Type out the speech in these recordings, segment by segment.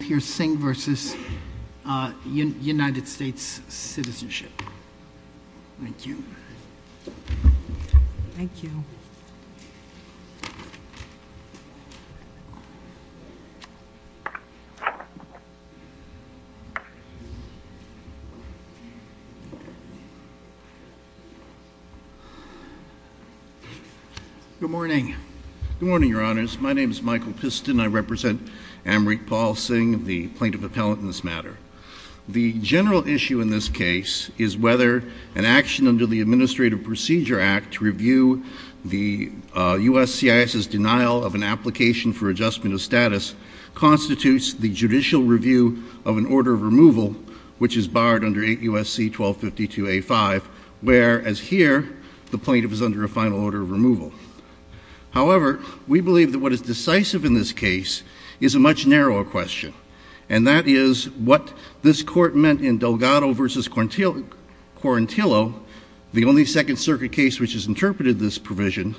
Pierce Singh v. United States Citizenship. Thank you. Thank you. Good morning. Good morning, your honors. My name is Michael Piston. I represent Amrit Paul Singh, the plaintiff appellant in this matter. The general issue in this case is whether an action under the Administrative Procedure Act to review the U.S. CIS's denial of an application for adjustment of status constitutes the judicial review of an order of removal, which is barred under 8 U.S.C. 1252A5, whereas here the plaintiff is under a final order of removal. However, we believe that what is decisive in this case is a much narrower question, and that is what this Court meant in Delgado v. Quarantillo, the only Second Circuit case which has interpreted this provision,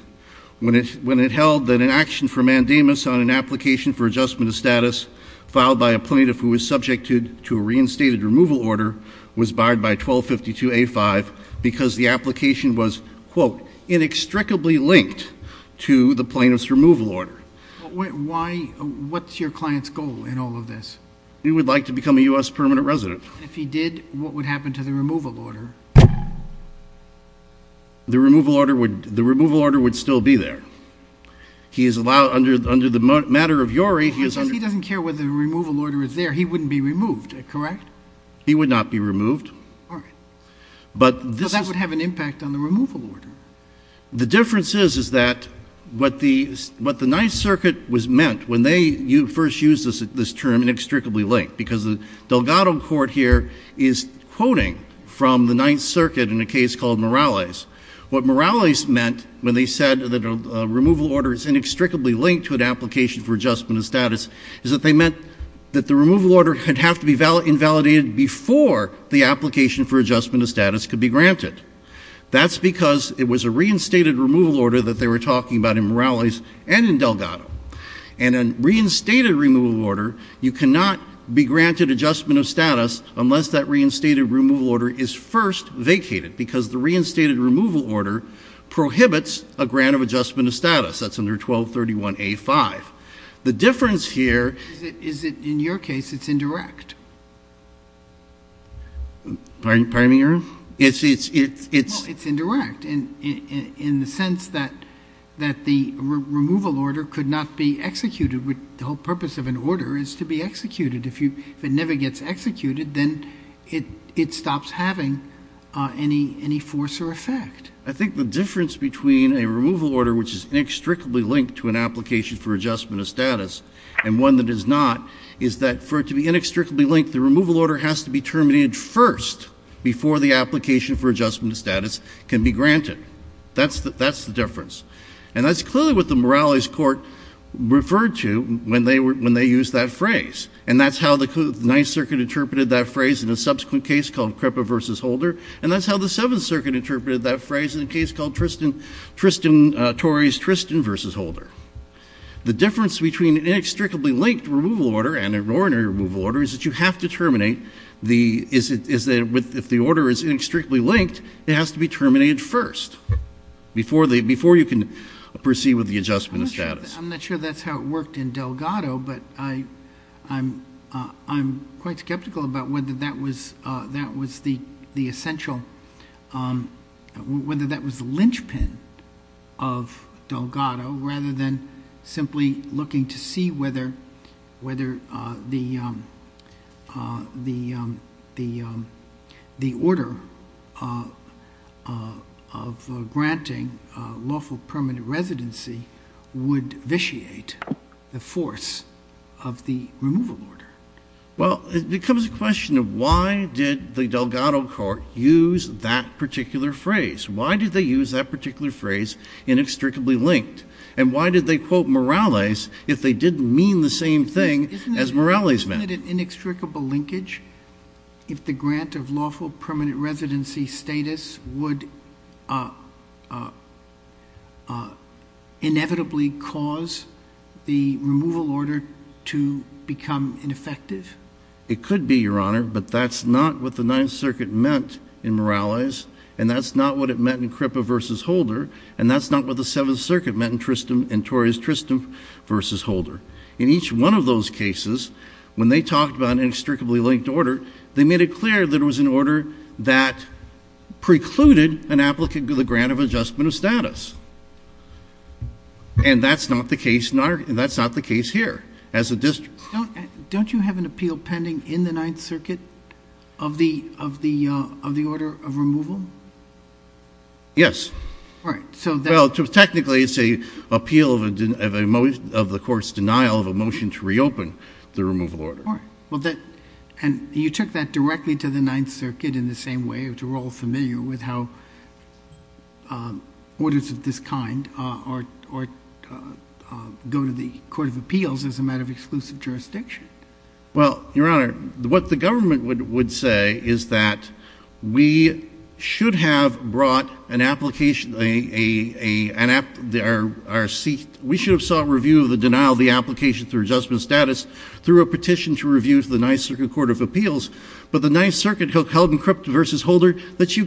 when it held that an action for mandamus on an application for adjustment of status filed by a plaintiff who was subjected to a reinstated removal order was barred by 1252A5 because the application was, quote, inextricably linked to the plaintiff's removal order. What's your client's goal in all of this? He would like to become a U.S. permanent resident. If he did, what would happen to the removal order? The removal order would still be there. He is allowed under the matter of URI. He doesn't care whether the removal order is there. He wouldn't be removed, correct? He would not be removed. All right. But that would have an impact on the removal order. The difference is that what the Ninth Circuit was meant when they first used this term, inextricably linked, because the Delgado court here is quoting from the Ninth Circuit in a case called Morales. What Morales meant when they said that a removal order is inextricably linked to an application for adjustment of status is that they meant that the removal order could have to be invalidated before the application for adjustment of status could be granted. That's because it was a reinstated removal order that they were talking about in Morales and in Delgado. In a reinstated removal order, you cannot be granted adjustment of status unless that reinstated removal order is first vacated because the reinstated removal order prohibits a grant of adjustment of status. That's under 1231A5. The difference here is that in your case, it's indirect. Pardon me, Your Honor? It's indirect in the sense that the removal order could not be executed. The whole purpose of an order is to be executed. If it never gets executed, then it stops having any force or effect. I think the difference between a removal order which is inextricably linked to an application for adjustment of status and one that is not is that for it to be inextricably linked, the removal order has to be terminated first before the application for adjustment of status can be granted. That's the difference. And that's clearly what the Morales Court referred to when they used that phrase. And that's how the Ninth Circuit interpreted that phrase in a subsequent case called Crippa v. Holder. And that's how the Seventh Circuit interpreted that phrase in a case called Tristan Torey's Tristan v. Holder. The difference between an inextricably linked removal order and an ordinary removal order is that you have to terminate the — is that if the order is inextricably linked, it has to be terminated first before you can proceed with the adjustment of status. I'm not sure that's how it worked in Delgado, but I'm quite skeptical about whether that was the essential — whether that was the linchpin of Delgado rather than simply looking to see whether the order of granting lawful permanent residency would vitiate the force of the removal order. Well, it becomes a question of why did the Delgado court use that particular phrase? Why did they use that particular phrase, inextricably linked? And why did they quote Morales if they didn't mean the same thing as Morales meant? Isn't it an inextricable linkage if the grant of lawful permanent residency status would inevitably cause the removal order to become ineffective? It could be, Your Honor, but that's not what the Ninth Circuit meant in Morales, and that's not what it meant in Crippa v. Holder, and that's not what the Seventh Circuit meant in Tristam and Torres Tristam v. Holder. In each one of those cases, when they talked about an inextricably linked order, they made it clear that it was an order that precluded an applicant from the grant of adjustment of status. And that's not the case here as a district. Don't you have an appeal pending in the Ninth Circuit of the order of removal? Yes. All right. Well, technically it's an appeal of the court's denial of a motion to reopen the removal order. All right. And you took that directly to the Ninth Circuit in the same way, which we're all familiar with how orders of this kind go to the Court of Appeals as a matter of exclusive jurisdiction. Well, Your Honor, what the government would say is that we should have sought review of the denial of the application through adjustment of status through a petition to review to the Ninth Circuit Court of Appeals, but the Ninth Circuit held in Kripa v. Holder that you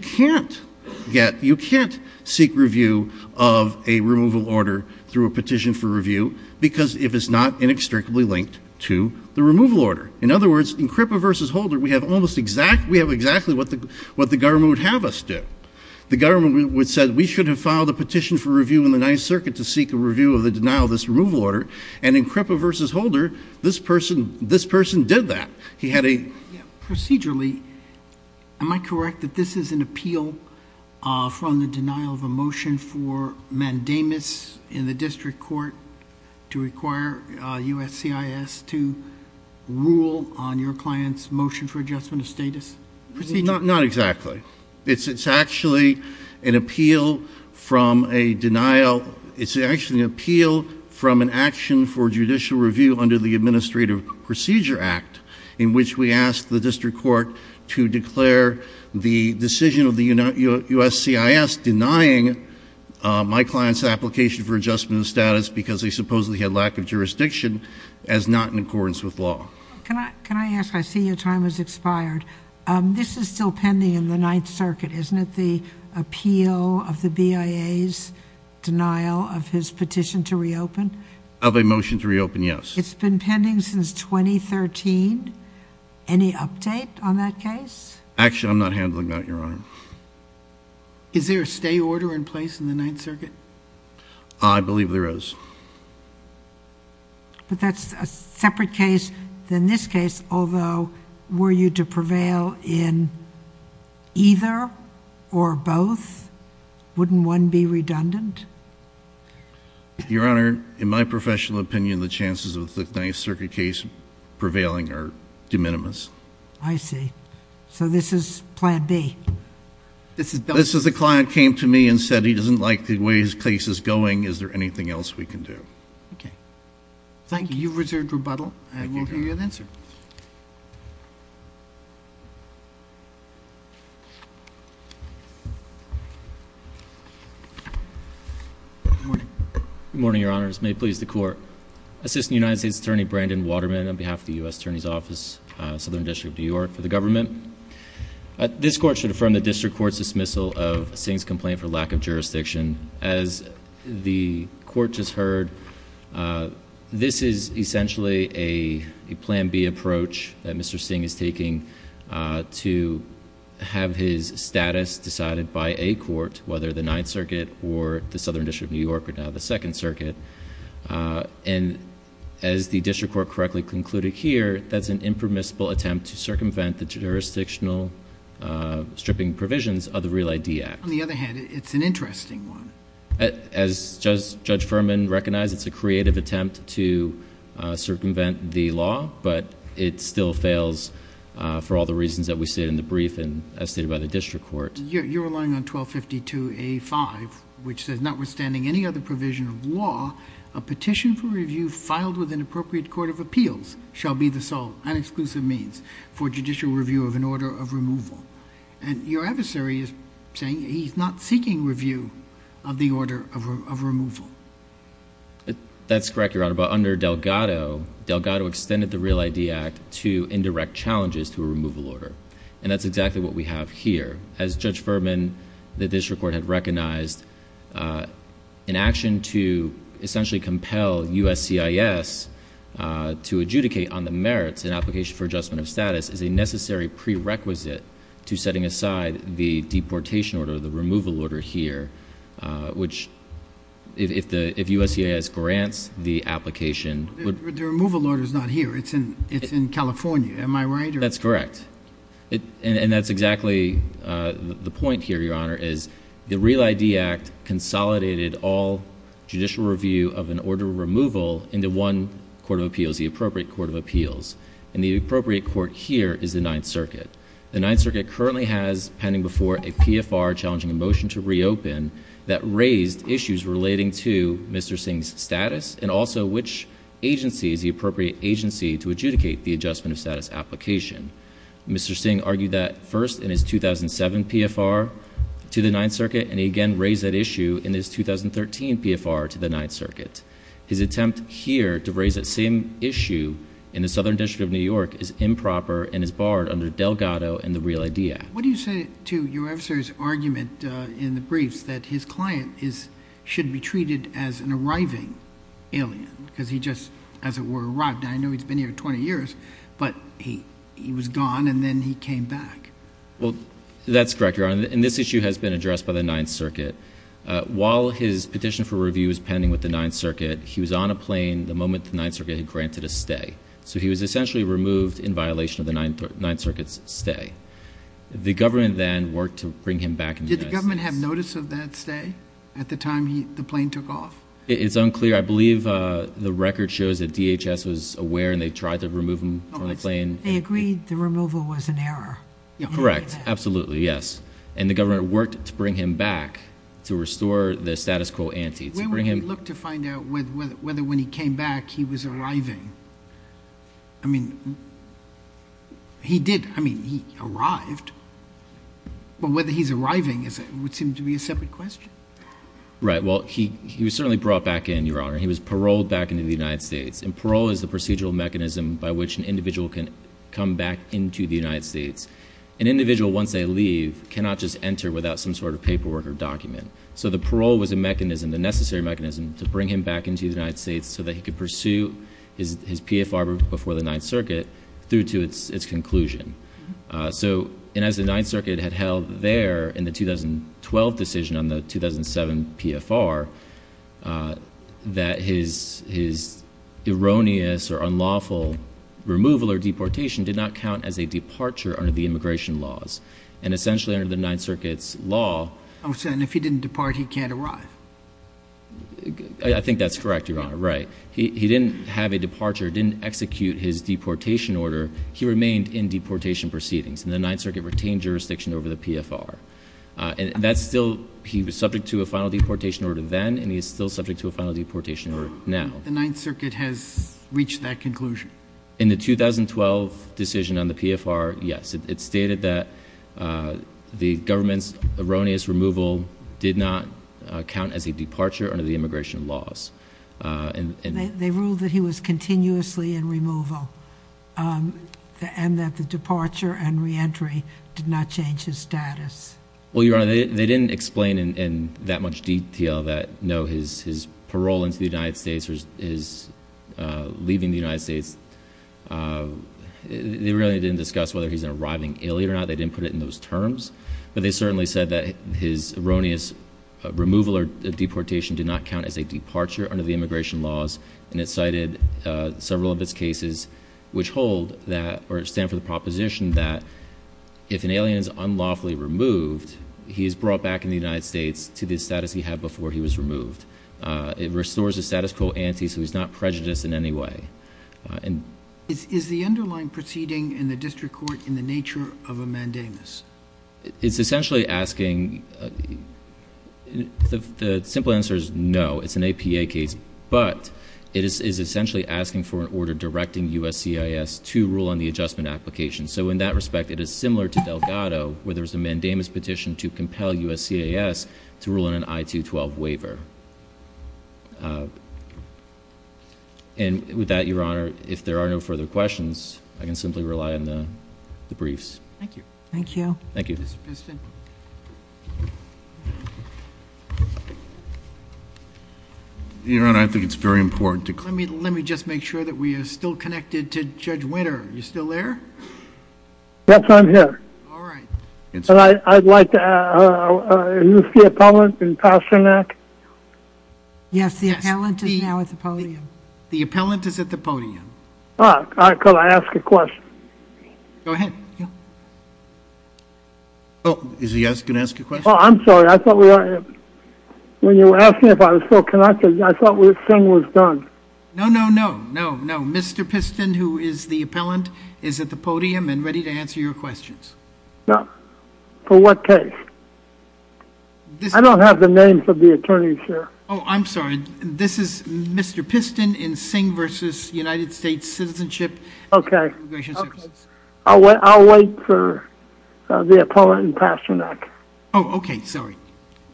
can't seek review of a removal order through a petition for review because it is not inextricably linked to the removal order. In other words, in Kripa v. Holder, we have exactly what the government would have us do. The government would have said we should have filed a petition for review in the Ninth Circuit to seek a review of the denial of this removal order, and in Kripa v. Holder, this person did that. Procedurally, am I correct that this is an appeal from the denial of a motion for mandamus in the district court to require USCIS to rule on your client's motion for adjustment of status? Not exactly. It's actually an appeal from an action for judicial review under the Administrative Procedure Act in which we ask the district court to declare the decision of the USCIS denying my client's application for adjustment of status because they supposedly had lack of jurisdiction as not in accordance with law. Can I ask? I see your time has expired. This is still pending in the Ninth Circuit. Isn't it the appeal of the BIA's denial of his petition to reopen? Of a motion to reopen, yes. It's been pending since 2013. Any update on that case? Actually, I'm not handling that, Your Honor. Is there a stay order in place in the Ninth Circuit? I believe there is. But that's a separate case than this case, although were you to prevail in either or both, wouldn't one be redundant? Your Honor, in my professional opinion, the chances of the Ninth Circuit case prevailing are de minimis. I see. So this is plan B. This is the client came to me and said he doesn't like the way his case is going. Is there anything else we can do? Thank you. You've reserved rebuttal, and we'll give you an answer. Good morning, Your Honors. May it please the Court. Assistant United States Attorney Brandon Waterman on behalf of the U.S. Attorney's Office, Southern District of New York, for the government. This court should affirm the district court's dismissal of Singh's complaint for lack of jurisdiction. As the court just heard, this is essentially a plan B approach that Mr. Singh is taking to have his status decided by a court, whether the Ninth Circuit or the Southern District of New York or now the Second Circuit. And as the district court correctly concluded here, that's an impermissible attempt to circumvent the jurisdictional stripping provisions of the Real ID Act. On the other hand, it's an interesting one. As Judge Furman recognized, it's a creative attempt to circumvent the law, but it still fails for all the reasons that we state in the brief and as stated by the district court. Your Honor, you're relying on 1252A5, which says, notwithstanding any other provision of law, a petition for review filed with an appropriate court of appeals shall be the sole and exclusive means for judicial review of an order of removal. And your adversary is saying he's not seeking review of the order of removal. That's correct, Your Honor. But under Delgado, Delgado extended the Real ID Act to indirect challenges to a removal order. And that's exactly what we have here. As Judge Furman, the district court had recognized, an action to essentially compel USCIS to adjudicate on the merits in application for adjustment of status is a necessary prerequisite to setting aside the deportation order, the removal order here, which if USCIS grants the application- The removal order is not here. It's in California. Am I right? That's correct. And that's exactly the point here, Your Honor, is the Real ID Act consolidated all judicial review of an order of removal into one court of appeals, the appropriate court of appeals. And the appropriate court here is the Ninth Circuit. The Ninth Circuit currently has pending before a PFR challenging a motion to reopen that raised issues relating to Mr. Singh's status and also which agency is the appropriate agency to adjudicate the adjustment of status application. Mr. Singh argued that first in his 2007 PFR to the Ninth Circuit, and he again raised that issue in his 2013 PFR to the Ninth Circuit. His attempt here to raise that same issue in the Southern District of New York is improper and is barred under Delgado and the Real ID Act. What do you say to your officer's argument in the briefs that his client should be treated as an arriving alien because he just, as it were, arrived. Now, I know he's been here 20 years, but he was gone and then he came back. Well, that's correct, Your Honor, and this issue has been addressed by the Ninth Circuit. While his petition for review is pending with the Ninth Circuit, he was on a plane the moment the Ninth Circuit had granted a stay. So he was essentially removed in violation of the Ninth Circuit's stay. The government then worked to bring him back. Did the government have notice of that stay at the time the plane took off? It's unclear. I believe the record shows that DHS was aware and they tried to remove him from the plane. They agreed the removal was an error. Correct. Absolutely, yes. And the government worked to bring him back to restore the status quo ante. They looked to find out whether when he came back he was arriving. I mean, he did. I mean, he arrived. But whether he's arriving would seem to be a separate question. Right. Well, he was certainly brought back in, Your Honor. He was paroled back into the United States, and parole is the procedural mechanism by which an individual can come back into the United States. An individual, once they leave, cannot just enter without some sort of paperwork or document. So the parole was a mechanism, a necessary mechanism, to bring him back into the United States so that he could pursue his PFR before the Ninth Circuit through to its conclusion. And as the Ninth Circuit had held there in the 2012 decision on the 2007 PFR, that his erroneous or unlawful removal or deportation did not count as a departure under the immigration laws. And essentially under the Ninth Circuit's law. And if he didn't depart, he can't arrive? I think that's correct, Your Honor. Right. He didn't have a departure, didn't execute his deportation order. He remained in deportation proceedings, and the Ninth Circuit retained jurisdiction over the PFR. And that's still he was subject to a final deportation order then, and he is still subject to a final deportation order now. The Ninth Circuit has reached that conclusion? In the 2012 decision on the PFR, yes. It stated that the government's erroneous removal did not count as a departure under the immigration laws. They ruled that he was continuously in removal and that the departure and reentry did not change his status. Well, Your Honor, they didn't explain in that much detail that, no, his parole into the United States or his leaving the United States, they really didn't discuss whether he's an arriving alien or not. They didn't put it in those terms. But they certainly said that his erroneous removal or deportation did not count as a departure under the immigration laws. And it cited several of its cases which hold that, or stand for the proposition that, if an alien is unlawfully removed, he is brought back in the United States to the status he had before he was removed. It restores the status quo ante, so he's not prejudiced in any way. Is the underlying proceeding in the district court in the nature of a mandamus? It's essentially asking, the simple answer is no. It's an APA case, but it is essentially asking for an order directing USCIS to rule on the adjustment application. So in that respect, it is similar to Delgado, where there's a mandamus petition to compel USCIS to rule on an I-212 waiver. And with that, Your Honor, if there are no further questions, I can simply rely on the briefs. Thank you. Thank you. Thank you. Your Honor, I think it's very important to- Let me just make sure that we are still connected to Judge Winter. Are you still there? Yes, I'm here. All right. And I'd like to ask, is the appellant in Pasternak? Yes, the appellant is now at the podium. The appellant is at the podium. Could I ask a question? Go ahead. Is he going to ask a question? I'm sorry, I thought we were- When you asked me if I was still connected, I thought the thing was done. No, no, no. No, no. Mr. Piston, who is the appellant, is at the podium and ready to answer your questions. For what case? I don't have the names of the attorneys here. Oh, I'm sorry. This is Mr. Piston in Singh v. United States Citizenship and Immigration Services. Okay. I'll wait for the appellant in Pasternak. Oh, okay. Sorry.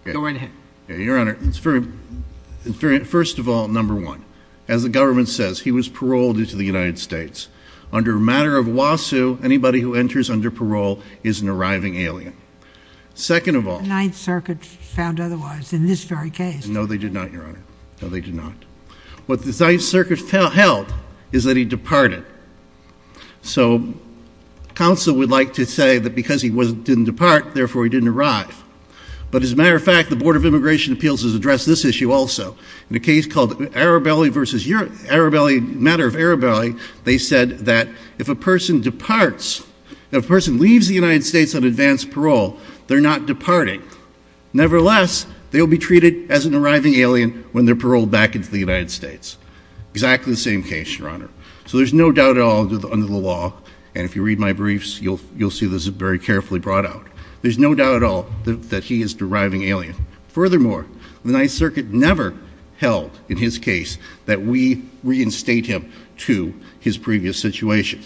Go right ahead. Your Honor, first of all, number one, as the government says, he was paroled into the United States. Under a matter of lawsuit, anybody who enters under parole is an arriving alien. Second of all- Ninth Circuit found otherwise in this very case. No, they did not, Your Honor. No, they did not. What the Ninth Circuit held is that he departed. So, counsel would like to say that because he didn't depart, therefore he didn't arrive. But as a matter of fact, the Board of Immigration Appeals has addressed this issue also. In a case called Arabelli v. Arabelli, matter of Arabelli, they said that if a person departs, if a person leaves the United States on advance parole, they're not departing. Nevertheless, they'll be treated as an arriving alien when they're paroled back into the United States. Exactly the same case, Your Honor. So there's no doubt at all under the law, and if you read my briefs, you'll see this is very carefully brought out. There's no doubt at all that he is deriving alien. Furthermore, the Ninth Circuit never held in his case that we reinstate him to his previous situation.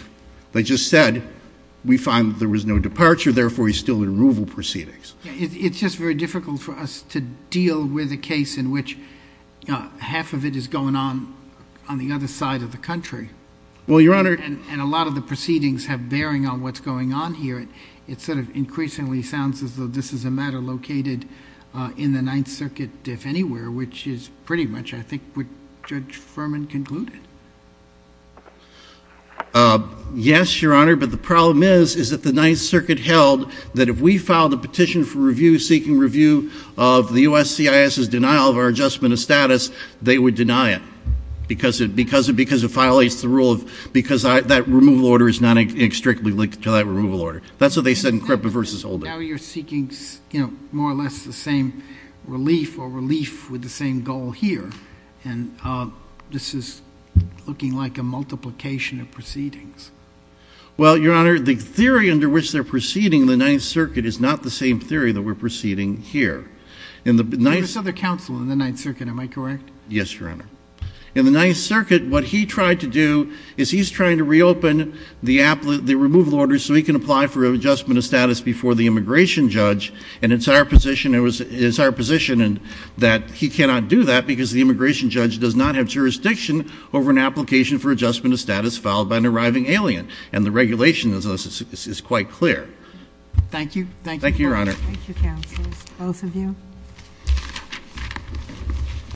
They just said we find that there was no departure, therefore he's still in removal proceedings. It's just very difficult for us to deal with a case in which half of it is going on on the other side of the country. Well, Your Honor- It certainly sounds as though this is a matter located in the Ninth Circuit, if anywhere, which is pretty much, I think, what Judge Furman concluded. Yes, Your Honor, but the problem is that the Ninth Circuit held that if we filed a petition for review, seeking review of the USCIS's denial of our adjustment of status, they would deny it because it violates the rule of- because that removal order is not strictly linked to that removal order. That's what they said in Krepa v. Holder. Now you're seeking more or less the same relief or relief with the same goal here, and this is looking like a multiplication of proceedings. Well, Your Honor, the theory under which they're proceeding in the Ninth Circuit is not the same theory that we're proceeding here. There's other counsel in the Ninth Circuit, am I correct? Yes, Your Honor. In the Ninth Circuit, what he tried to do is he's trying to reopen the removal order so he can apply for adjustment of status before the immigration judge, and it's our position that he cannot do that because the immigration judge does not have jurisdiction over an application for adjustment of status filed by an arriving alien, and the regulation is quite clear. Thank you. Thank you, Your Honor. Thank you, counselors. Both of you.